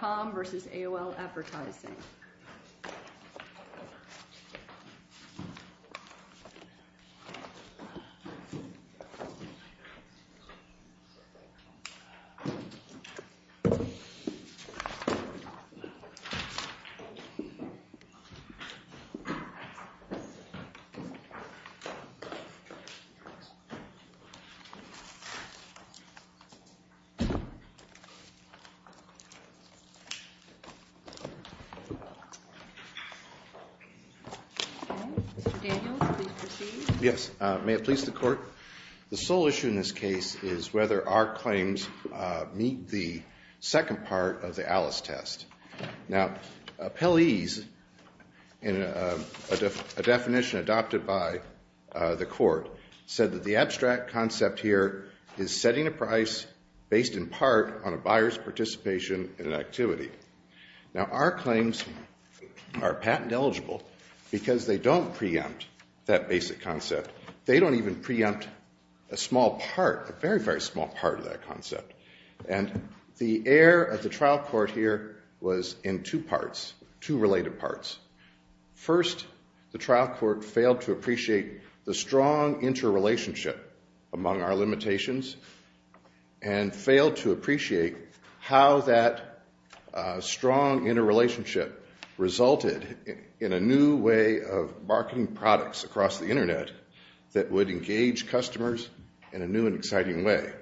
.com v. AOL Advertising. The sole issue in this case is whether our claims meet the second part of the Alice test. Now, appellees, in a definition adopted by the court, said that the abstract concept here is setting a price based in part on a buyer's participation in an activity. Now our claims are patent eligible because they don't preempt that basic concept. They don't even preempt a small part, a very, very small part of that concept. And the air of the trial court here was in two parts, two related parts. First, the trial court failed to appreciate the strong interrelationship among our limitations and failed to appreciate how that strong interrelationship resulted in a new way of marketing products across the Internet that would engage customers in a new and exciting way.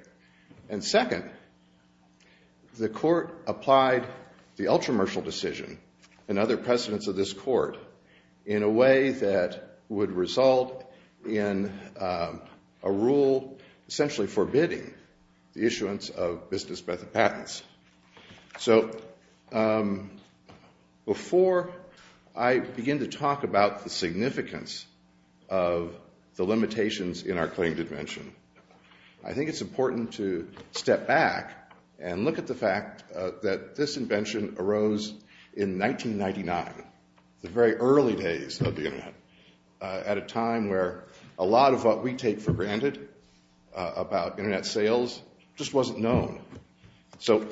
And second, the court applied the ultra-martial decision and other precedents of this court in a way that would result in a rule essentially forbidding the issuance of business patents. So before I begin to talk about the significance of the limitations in our claim to dimension, I think it's important to step back and look at the fact that this invention arose in 1999, the very early days of the Internet, at a time where a lot of what we take for granted about Internet sales just wasn't known. So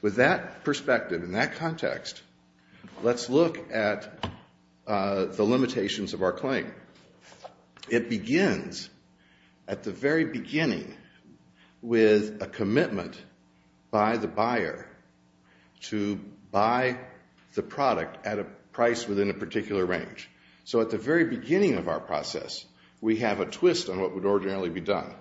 with that perspective and that context, let's look at the limitations of our claim. It begins at the very beginning with a commitment by the buyer to buy the product at a price within a particular range. So at the very beginning of our process, we have a twist on what would ordinarily be done.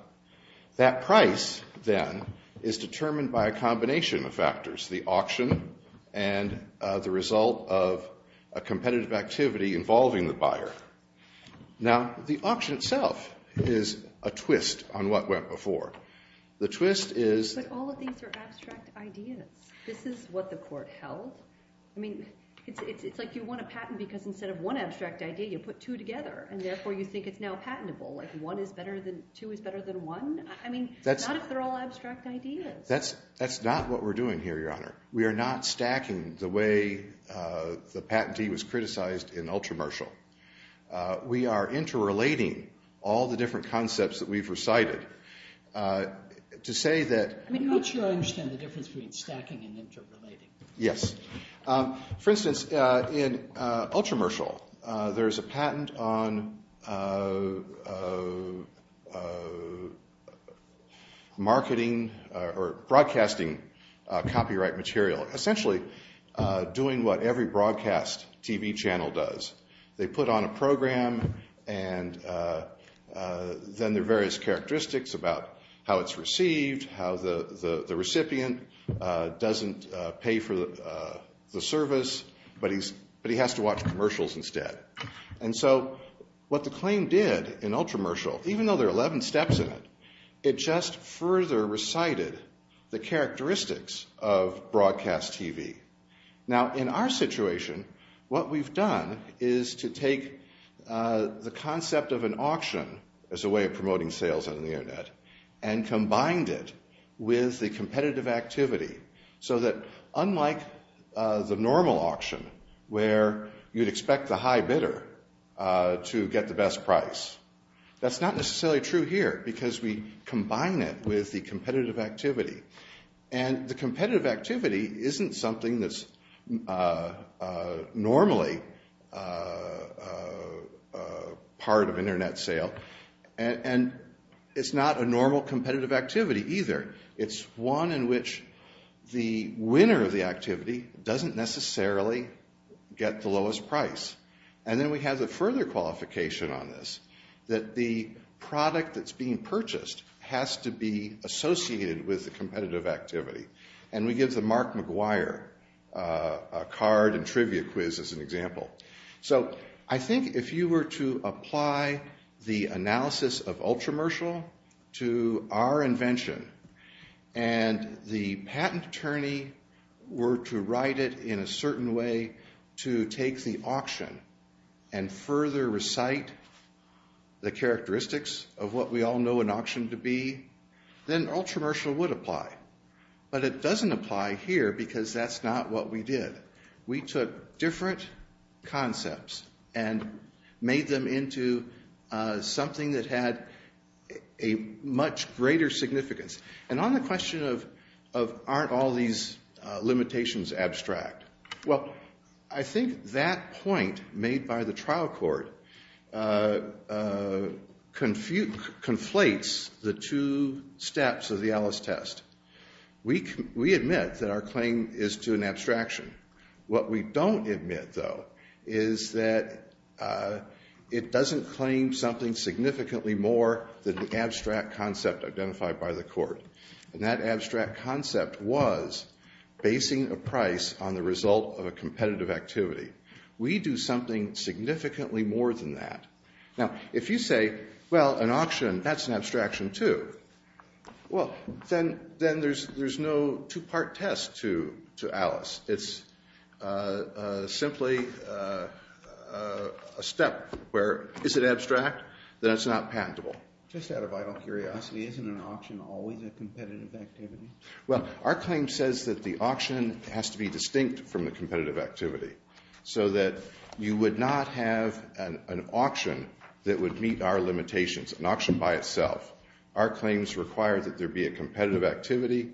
That price then is determined by a combination of factors, the auction and the result of a competitive activity involving the buyer. Now, the auction itself is a twist on what went before. The twist is... But all of these are abstract ideas. This is what the court held. I mean, it's like you want a patent because instead of one abstract idea, you put two together and therefore you think it's now patentable. Like one is better than, two is better than one. I mean, not if they're all abstract ideas. That's not what we're doing here, Your Honor. We are not stacking the way the patentee was criticized in Ultramershal. We are interrelating all the different concepts that we've recited to say that... I'm not sure I understand the difference between stacking and interrelating. Yes. For instance, in Ultramershal, there's a patent on marketing or broadcasting copyright material, essentially doing what every broadcast TV channel does. They put on a program and then there are various characteristics about how it's received, how the recipient doesn't pay for the service, but he has to watch commercials instead. And so what the claim did in Ultramershal, even though there are 11 steps in it, it just further recited the characteristics of broadcast TV. Now, in our situation, what we've done is to take the concept of an auction as a way of promoting sales on the internet and combined it with the competitive activity so that unlike the normal auction where you'd expect the high bidder to get the best price, that's not necessarily true here because we combine it with the competitive activity. And the competitive activity isn't something that's normally part of internet sale and it's not a normal competitive activity either. It's one in which the winner of the activity doesn't necessarily get the lowest price. And then we have the further qualification on this, that the product that's being purchased has to be associated with the competitive activity. And we give the Mark McGuire card and trivia quiz as an example. So I think if you were to apply the analysis of Ultramershal to our invention and the patent attorney were to write it in a certain way to take the auction and further recite the characteristics of what we all know an auction to be, then Ultramershal would apply. But it doesn't apply here because that's not what we did. We took different concepts and made them into something that had a much greater significance. And on the question of aren't all these limitations abstract, well, I think that point made by the trial court conflates the two steps of the Alice test. We admit that our claim is to an abstraction. What we don't admit, though, is that it doesn't claim something significantly more than the abstract concept identified by the court. And that abstract concept was basing a price on the result of a competitive activity. We do something significantly more than that. Now, if you say, well, an auction, that's an abstraction too. Well, then there's no two-part test to Alice. It's simply a step where is it abstract, then it's not patentable. Just out of vital curiosity, isn't an auction always a competitive activity? Well, our claim says that the auction has to be distinct from the competitive activity so that you would not have an auction that would meet our limitations, an auction by itself. Our claims require that there be a competitive activity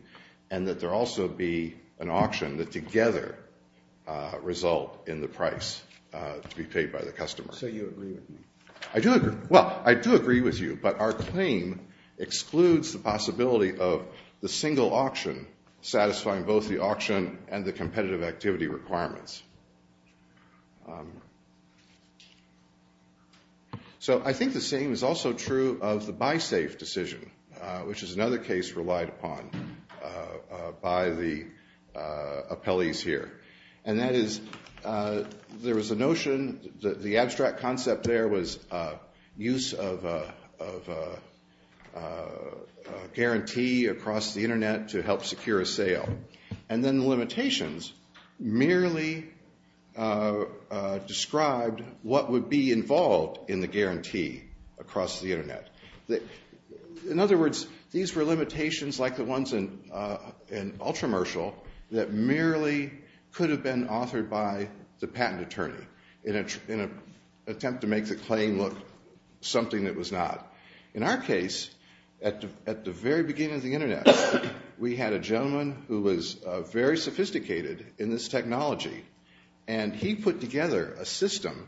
and that there also be an auction that together result in the price to be paid by the customer. So you agree with me? I do agree. Well, I do agree with you, but our claim excludes the possibility of the single auction satisfying both the auction and the competitive activity requirements. So I think the same is also true of the buy safe decision, which is another case relied upon by the appellees here. And that is, there was a notion, the abstract concept there was use of a guarantee across the internet to help secure a sale. And then the limitations merely described what would be involved in the guarantee across the internet. In other words, these were limitations like the ones in Ultramershal that merely could have been authored by the patent attorney in an attempt to make the claim look something that was not. In our case, at the very beginning of the internet, we had a gentleman who was very sophisticated in this technology. And he put together a system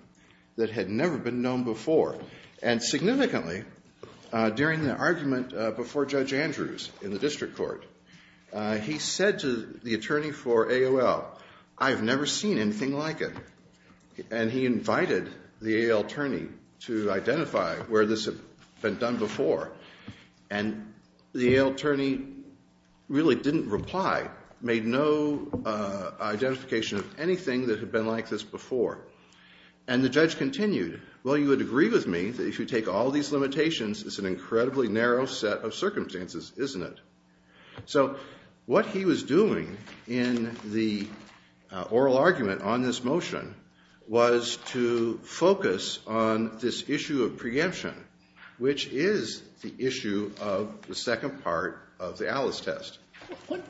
that had never been known before. And significantly, during the argument before Judge Andrews in the district court, he said to the attorney for AOL, I've never seen anything like it. And he invited the AOL attorney to identify where this had been done before. And the AOL attorney really didn't reply, made no identification of anything that had been like this before. And the judge continued, well, you would agree with me that if you take all these limitations, it's an incredibly narrow set of circumstances, isn't it? So what he was doing in the oral argument on this motion was to focus on this issue of preemption, which is the issue of the second part of the Alice test. What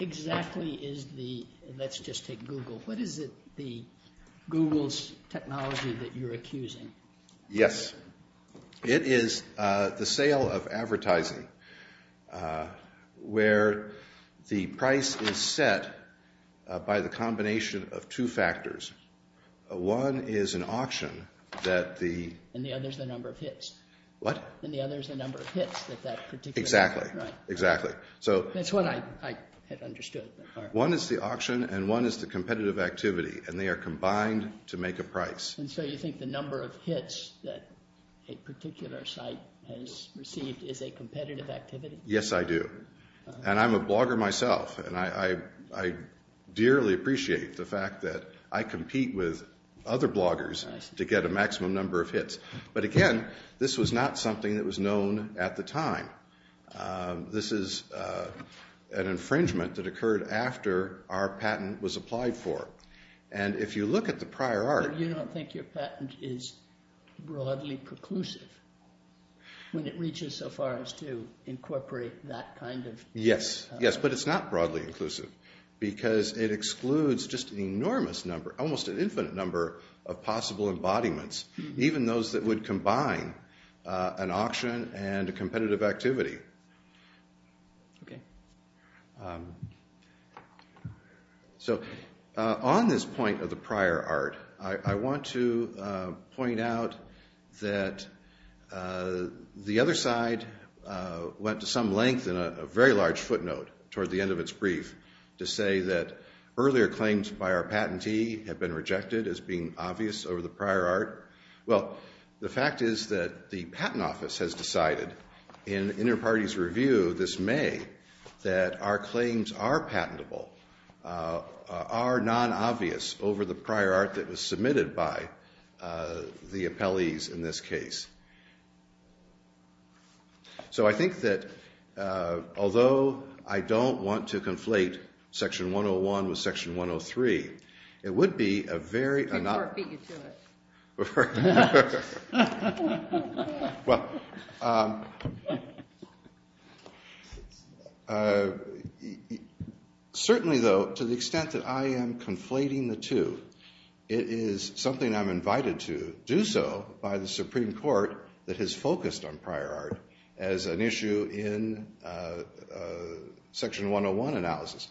exactly is the, let's just take Google, what is it the Google's technology that you're accusing? Yes. It is the sale of advertising where the price is set by the combination of two factors. One is an auction that the. And the other is the number of hits. What? And the other is the number of hits that that particular. Exactly. Exactly. So that's what I had understood. One is the auction and one is the competitive activity. And they are combined to make a price. And so you think the number of hits that a particular site has received is a competitive activity? Yes, I do. And I'm a blogger myself and I dearly appreciate the fact that I compete with other bloggers to get a maximum number of hits. But again, this was not something that was known at the time. This is an infringement that occurred after our patent was applied for. And if you look at the prior art. You don't think your patent is broadly preclusive when it reaches so far as to incorporate that kind of. Yes. Yes. But it's not broadly inclusive. Because it excludes just an enormous number, almost an infinite number of possible embodiments. Even those that would combine an auction and a competitive activity. So on this point of the prior art. I want to point out that the other side went to some length in a very large footnote toward the end of its brief. To say that earlier claims by our patentee have been rejected as being obvious over the prior art. Well, the fact is that the patent office has decided in inter-parties review this May that our claims are patentable, are non-obvious over the prior art that was submitted by the appellees in this case. So I think that although I don't want to conflate section 101 with section 103. It would be a very. Before it beat you to it. Well. Certainly though, to the extent that I am conflating the two. It is something I'm invited to do so by the Supreme Court that has focused on prior art as an issue in section 101 analysis.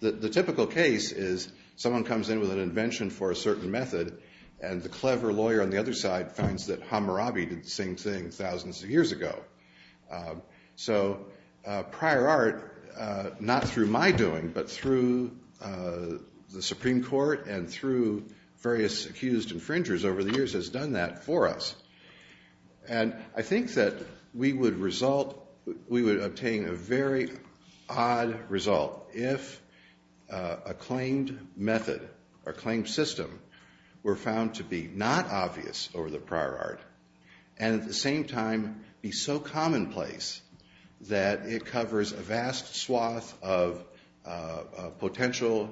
The typical case is someone comes in with an invention for a certain method. And the clever lawyer on the other side finds that Hammurabi did the same thing thousands of years ago. So prior art, not through my doing, but through the Supreme Court and through various accused infringers over the years has done that for us. And I think that we would result. We would obtain a very odd result if a claimed method or claimed system were found to be not obvious over the prior art and at the same time be so commonplace that it covers a vast swath of potential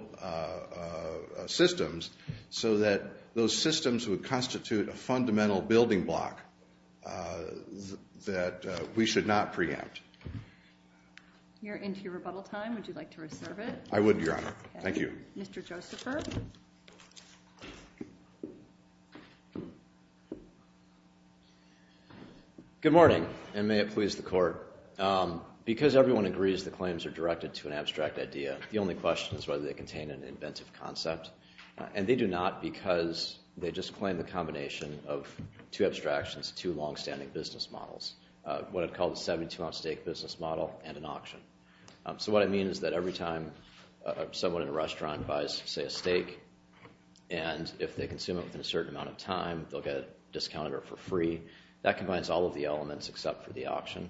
systems so that those systems would constitute a fundamental building block that we should not preempt. You're into your rebuttal time. Would you like to reserve it? I would, Your Honor. Thank you. Mr. Josepher. Good morning, and may it please the Court. Because everyone agrees the claims are directed to an abstract idea, the only question is whether they contain an inventive concept. And they do not because they just claim the combination of two abstractions, two longstanding business models, what I'd call the 72-ounce steak business model and an auction. So what I mean is that every time someone in a restaurant buys, say, a steak and if they consume it within a certain amount of time, they'll get a discounted or for free, that combines all of the elements except for the auction.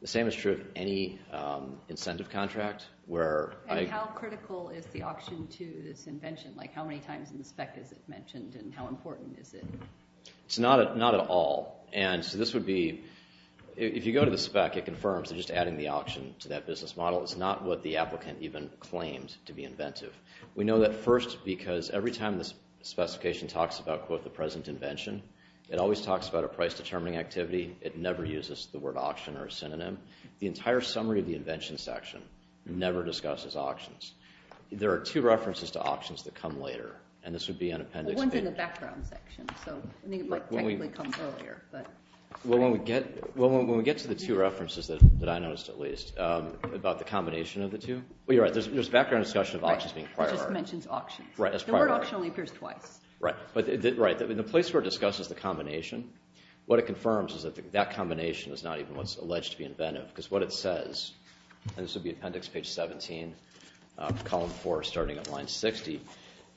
The same is true of any incentive contract where I... ...to this invention, like how many times in the spec is it mentioned and how important is it? It's not at all. And so this would be, if you go to the spec, it confirms they're just adding the auction to that business model. It's not what the applicant even claims to be inventive. We know that first because every time this specification talks about, quote, the present invention, it always talks about a price-determining activity. It never uses the word auction or a synonym. The entire summary of the invention section never discusses auctions. There are two references to auctions that come later. And this would be on appendix... Well, one's in the background section, so I think it might technically come earlier, but... Well, when we get to the two references that I noticed, at least, about the combination of the two... Well, you're right, there's background discussion of auctions being priority. Right, it just mentions auctions. Right, as priority. The word auction only appears twice. Right, but the place where it discusses the combination, what it confirms is that that combination is not even what's alleged to be inventive because what it says, and this would be appendix page 17, column 4, starting at line 60,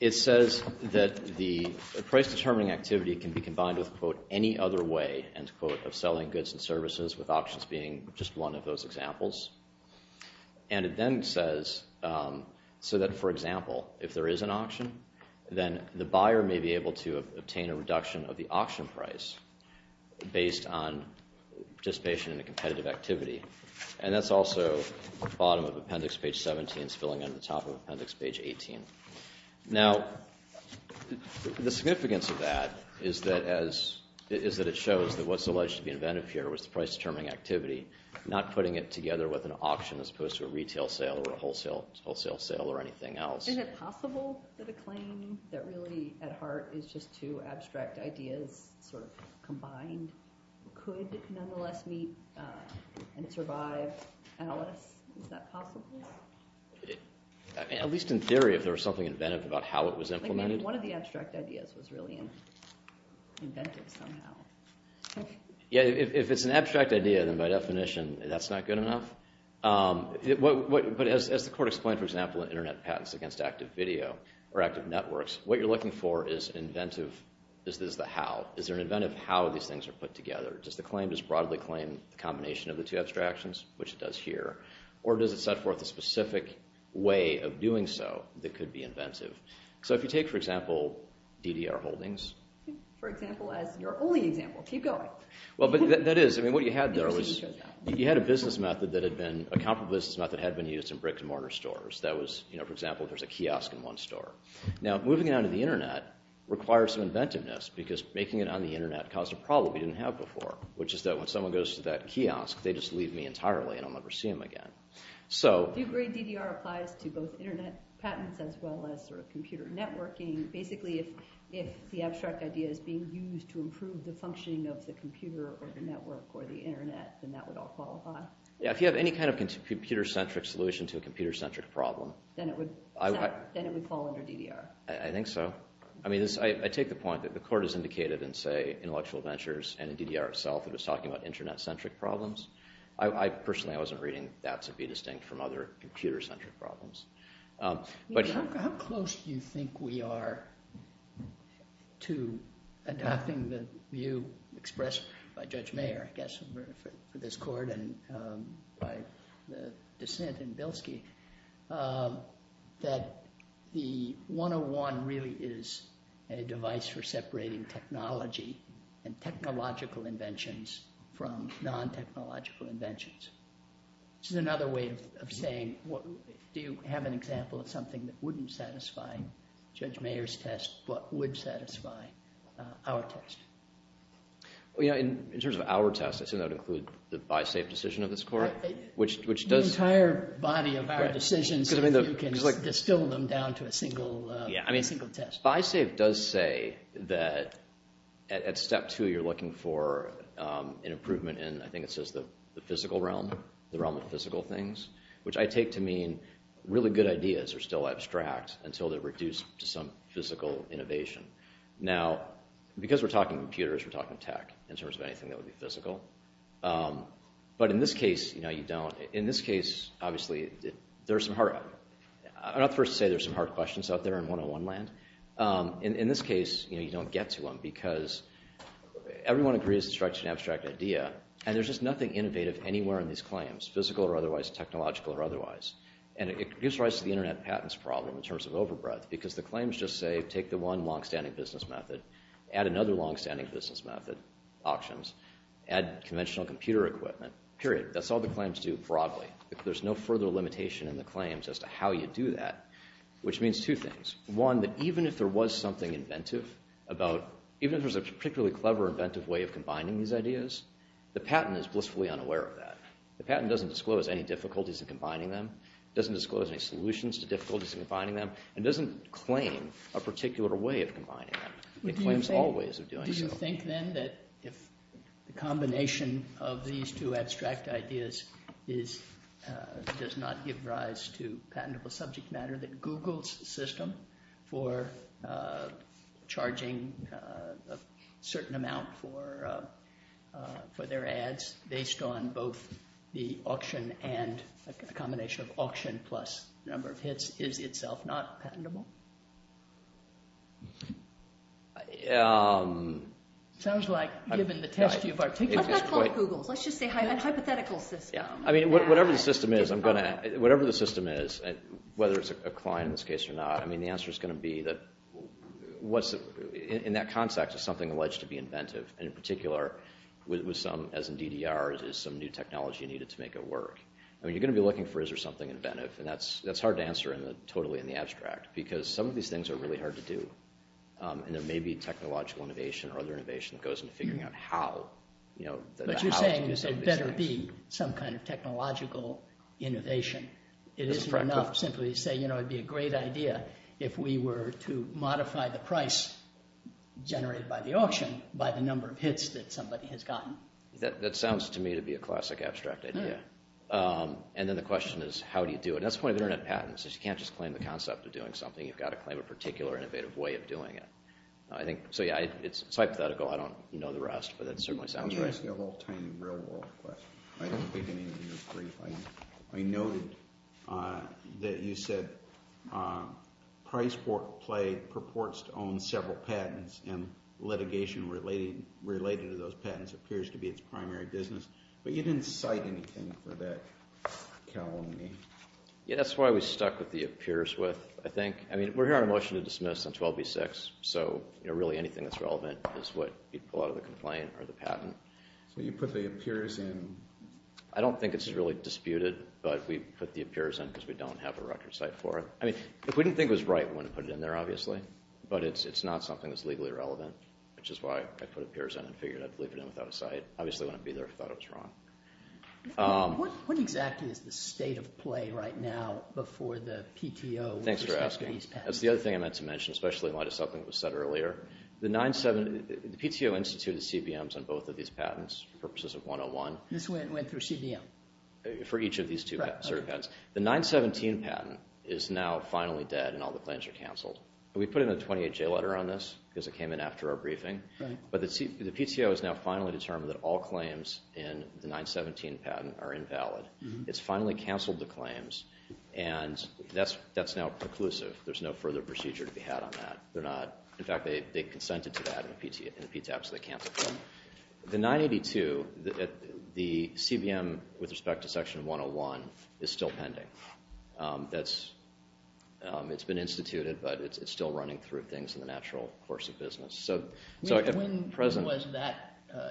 it says that the price-determining activity can be combined with, quote, any other way, end quote, of selling goods and services, with auctions being just one of those examples. And it then says, so that, for example, if there is an auction, then the buyer may be able to obtain a reduction of the auction price based on participation in a competitive activity. And that's also the bottom of appendix page 17 spilling on the top of appendix page 18. Now, the significance of that is that it shows that what's alleged to be inventive here was the price-determining activity, not putting it together with an auction as opposed to a retail sale or a wholesale sale or anything else. Isn't it possible that a claim that really, at heart, is just two abstract ideas sort of combined could nonetheless meet and survive Alice? Is that possible? At least in theory, if there was something inventive about how it was implemented. One of the abstract ideas was really inventive somehow. Yeah, if it's an abstract idea, then by definition, that's not good enough. But as the court explained, for example, in Internet Patents Against Active Video or Active Networks, what you're looking for is the how. Is there an inventive how these things are put together? Does the claim just broadly claim the combination of the two abstractions, which it does here? Or does it set forth a specific way of doing so that could be inventive? So if you take, for example, DDR Holdings. For example, as your only example. Keep going. Well, that is. I mean, what you had there was you had a business method that had been, a comparable business method had been used in brick-and-mortar stores. That was, for example, there's a kiosk in one store. Now, moving it onto the internet requires some inventiveness, because making it on the internet caused a problem we didn't have before, which is that when someone goes to that kiosk, they just leave me entirely and I'll never see them again. So. Do you agree DDR applies to both internet patents as well as computer networking? Basically, if the abstract idea is being used to improve the functioning of the computer, or the network, or the internet, then that would all qualify. Yeah, if you have any kind of computer-centric solution to a computer-centric problem. Then it would. All under DDR. I think so. I mean, I take the point that the court has indicated in, say, intellectual ventures and in DDR itself, it was talking about internet-centric problems. I personally, I wasn't reading that to be distinct from other computer-centric problems. But how close do you think we are to adapting the view expressed by Judge Mayer, I guess, for this court, and by the dissent in Bilski, that the 101 really is a device for separating technology and technological inventions from non-technological inventions? This is another way of saying, do you have an example of something that wouldn't satisfy Judge Mayer's test, but would satisfy our test? Well, in terms of our test, I assume that would include the buy-safe decision of this court, which does. This entire body of our decisions, if you can distill them down to a single test. Buy-safe does say that at step two, you're looking for an improvement in, I think it says, the physical realm, the realm of physical things, which I take to mean really good ideas are still abstract until they're reduced to some physical innovation. Now, because we're talking computers, we're talking tech in terms of anything that would be physical. But in this case, you don't. In this case, obviously, there's some hard questions out there in 101 land. In this case, you don't get to them, because everyone agrees it strikes an abstract idea, and there's just nothing innovative anywhere in these claims, physical or otherwise, technological or otherwise. And it gives rise to the internet patents problem in terms of overbreath, because the claims just say, take the one long-standing business method, add another long-standing business method, auctions, add conventional computer equipment, period. That's all the claims do broadly. There's no further limitation in the claims as to how you do that, which means two things. One, that even if there was something inventive about, even if there's a particularly clever, inventive way of combining these ideas, the patent is blissfully unaware of that. The patent doesn't disclose any difficulties in combining them, doesn't disclose any solutions to difficulties in combining them, and doesn't claim a particular way of combining them. It claims all ways of doing so. Do you think, then, that if the combination of these two abstract ideas does not give rise to patentable subject matter, that Google's system for charging a certain amount for their ads, based on both the auction and a combination of auction plus number of hits, is itself not patentable? Sounds like, given the test you've articulated, it's quite- I'm not calling Google's. Let's just say a hypothetical system. I mean, whatever the system is, I'm going to- whatever the system is, whether it's a client in this case or not, I mean, the answer is going to be that, in that context, is something alleged to be inventive? And in particular, as in DDR, is some new technology needed to make it work? You're going to be looking for, is there something inventive? And that's hard to answer totally in the abstract, because some of these things are really hard to do. And there may be technological innovation or other innovation that goes into figuring out how. But you're saying, you say, better be some kind of technological innovation. It isn't enough simply to say, it'd be a great idea if we were to modify the price generated by the auction by the number of hits that somebody has gotten. That sounds to me to be a classic abstract idea. And then the question is, how do you do it? That's the point of internet patents, is you can't just claim the concept of doing something. You've got to claim a particular innovative way of doing it. So yeah, it's hypothetical. I don't know the rest. But that certainly sounds right. I'm asking a little tiny real world question. I don't think any of you agree. I noted that you said price play purports to own several patents. And litigation related to those patents appears to be its primary business. But you didn't cite anything for that calumny. Yeah, that's why we stuck with the appears with, I think. I mean, we're here on a motion to dismiss on 12B6. So really, anything that's relevant is what you'd pull out of the complaint or the patent. So you put the appears in. I don't think it's really disputed. But we put the appears in because we don't have a record site for it. I mean, if we didn't think it was right, we wouldn't have put it in there, obviously. But it's not something that's legally relevant, which is why I put appears in and figured I'd leave it in without a site. Obviously, I wouldn't be there if I thought it was wrong. What exactly is the state of play right now before the PTO with respect to these patents? Thanks for asking. That's the other thing I meant to mention, especially in light of something that was said earlier. The PTO instituted CBMs on both of these patents for purposes of 101. This went through CBM? For each of these two patent certificates. The 917 patent is now finally dead, and all the claims are canceled. We put in a 28J letter on this because it came in after our briefing. But the PTO has now finally determined that all claims in the 917 patent are invalid. It's finally canceled the claims, and that's now preclusive. There's no further procedure to be had on that. In fact, they consented to that in the PTAB, so they canceled it. The 982, the CBM with respect to section 101, is still pending. It's been instituted, but it's still running through things in the natural course of business. When was that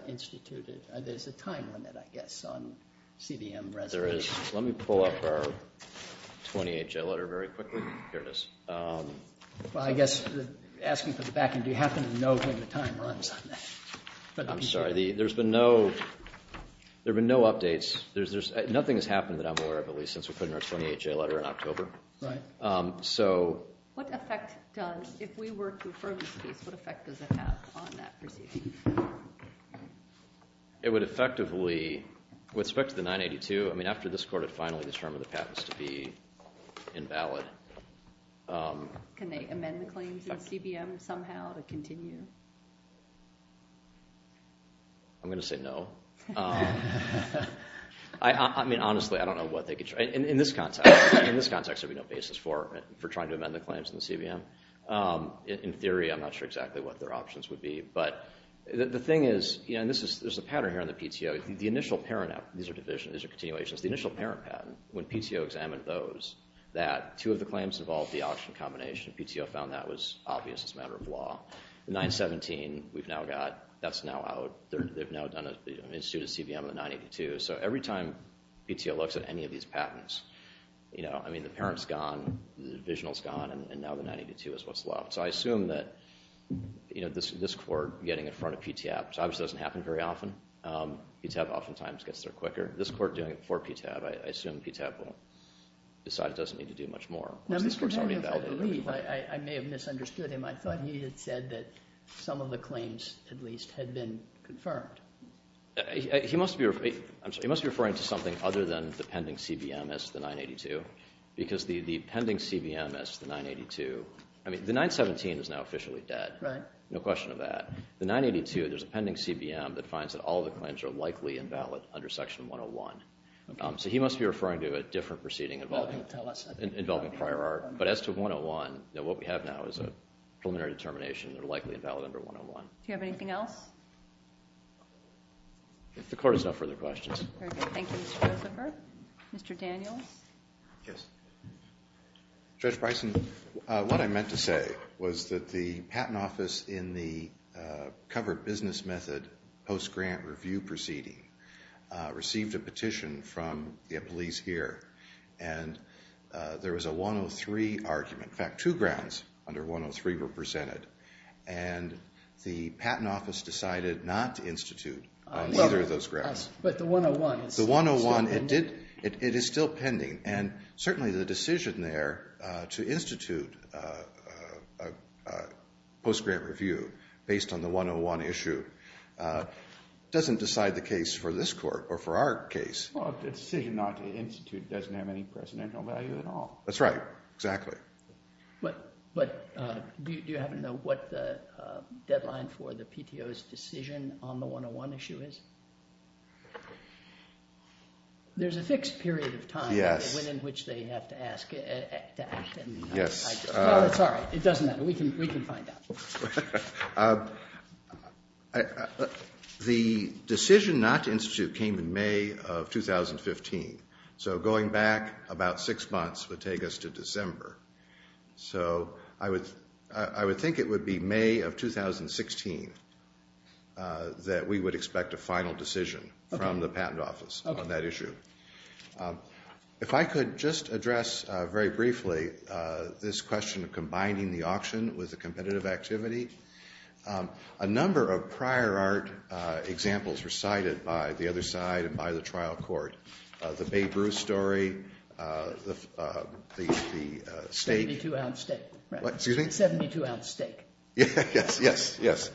instituted? There's a time limit, I guess, on CBM reservations. Let me pull up our 28J letter very quickly. Here it is. Well, I guess, asking for the back end, do you happen to know when the time runs on that? I'm sorry. There have been no updates. Nothing has happened that I'm aware of, at least, since we put in our 28J letter in October. So. What effect does, if we were to defer this case, what effect does it have on that proceeding? It would effectively, with respect to the 982, I mean, after this court had finally determined the patent was to be invalid. Can they amend the claims in CBM somehow to continue? I'm going to say no. I mean, honestly, I don't know what they could try. In this context, there would be no basis for trying to amend the claims in the CBM. In theory, I'm not sure exactly what their options would be. But the thing is, and there's a pattern here on the PTO, the initial parent, these are division, these are continuations, the initial parent patent, when PTO examined those, that two of the claims involved the option combination. PTO found that was obvious as a matter of law. The 917, we've now got, that's now out. They've now done an institute at CBM on the 982. So every time PTO looks at any of these patents, I mean, the parent's gone, the divisional's gone, and now the 982 is what's left. So I assume that this court getting in front of PTAB, which obviously doesn't happen very often. PTAB oftentimes gets there quicker. This court doing it for PTAB, I assume PTAB will decide it doesn't need to do much more. Now, Mr. Henry, if I believe, I may have misunderstood him. I thought he had said that some of the claims, at least, had been confirmed. He must be referring to something other than the pending CBM as the 982. Because the pending CBM as the 982, I mean, the 917 is now officially dead. No question of that. The 982, there's a pending CBM that finds that all the claims are likely invalid under section 101. So he must be referring to a different proceeding involving prior art. But as to 101, what we have now is a preliminary determination they're likely invalid under 101. Do you have anything else? The court has no further questions. Very good. Thank you, Mr. Josepher. Mr. Daniels? Yes. Judge Bryson, what I meant to say was that the patent office in the covered business method post-grant review proceeding received a petition from the police here. And there was a 103 argument. In fact, two grounds under 103 were presented. And the patent office decided not to institute on either of those grounds. But the 101 is still pending. It is still pending. And certainly, the decision there to institute a post-grant review based on the 101 issue doesn't decide the case for this court or for our case. Well, a decision not to institute doesn't have any presidential value at all. That's right. Exactly. But do you happen to know what the deadline for the PTO's decision on the 101 issue is? There's a fixed period of time within which they have to ask to act. Yes. No, that's all right. It doesn't matter. We can find out. The decision not to institute came in May of 2015. So going back about six months would take us to December. So I would think it would be May of 2016 that we would expect a final decision from the patent office on that issue. If I could just address very briefly this question of combining the auction with the competitive activity, a number of prior art examples were cited by the other side and by the trial court. The Babe Ruth story, the stake. 72-ounce stake. What? Excuse me? 72-ounce stake. Yes, yes, yes.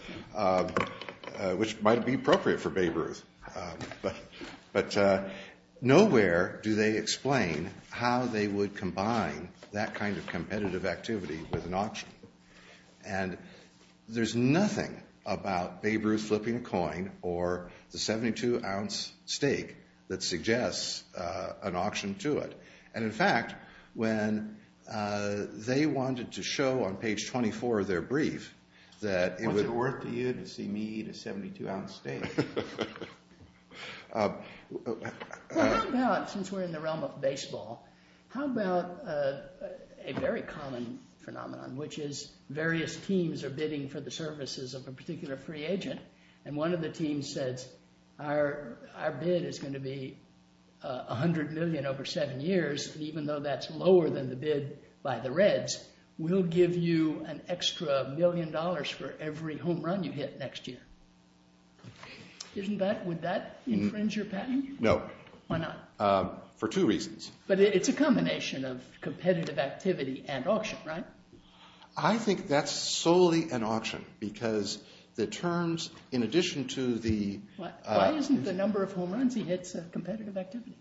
Which might be appropriate for Babe Ruth. But nowhere do they explain how they would combine that kind of competitive activity with an auction. And there's nothing about Babe Ruth flipping a coin or the 72-ounce stake that suggests an auction to it. And in fact, when they wanted to show on page 24 of their brief that it was worth to you to see me eat a 72-ounce stake, they said, no, no, no, no, no, no, no, no, no, no, no, no, no. Well, how about, since we're in the realm of baseball, how about a very common phenomenon, which is various teams are bidding for the services of a particular free agent. And one of the teams says, our bid is going to be $100 million over seven years. Even though that's lower than the bid by the Reds, we'll give you an extra million dollars for every home run you hit next year. Would that infringe your patent? No. Why not? For two reasons. But it's a combination of competitive activity and auction, right? I think that's solely an auction because the terms, in addition to the- Why isn't the number of home runs he hits a competitive activity?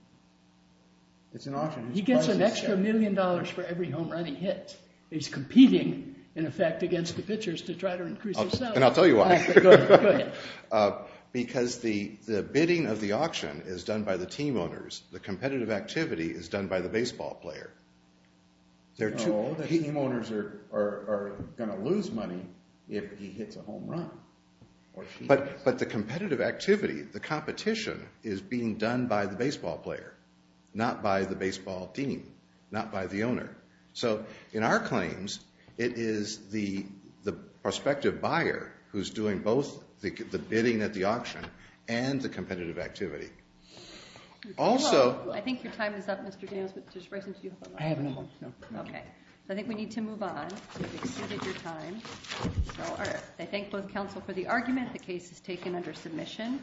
It's an auction. He gets an extra million dollars for every home run he hits. He's competing, in effect, against the pitchers to try to increase his sales. And I'll tell you why. Go ahead. Because the bidding of the auction is done by the team owners. The competitive activity is done by the baseball player. No, the team owners are going to lose money if he hits a home run. But the competitive activity, the competition, is being done by the baseball player, not by the baseball team, not by the owner. So in our claims, it is the prospective buyer who's doing both the bidding at the auction and the competitive activity. Also- I think your time is up, Mr. Daniels. Mr. Spricing, do you have a motion? I have no motion. No. OK. I think we need to move on. You've exceeded your time. I thank both counsel for the argument. The case is taken under submission.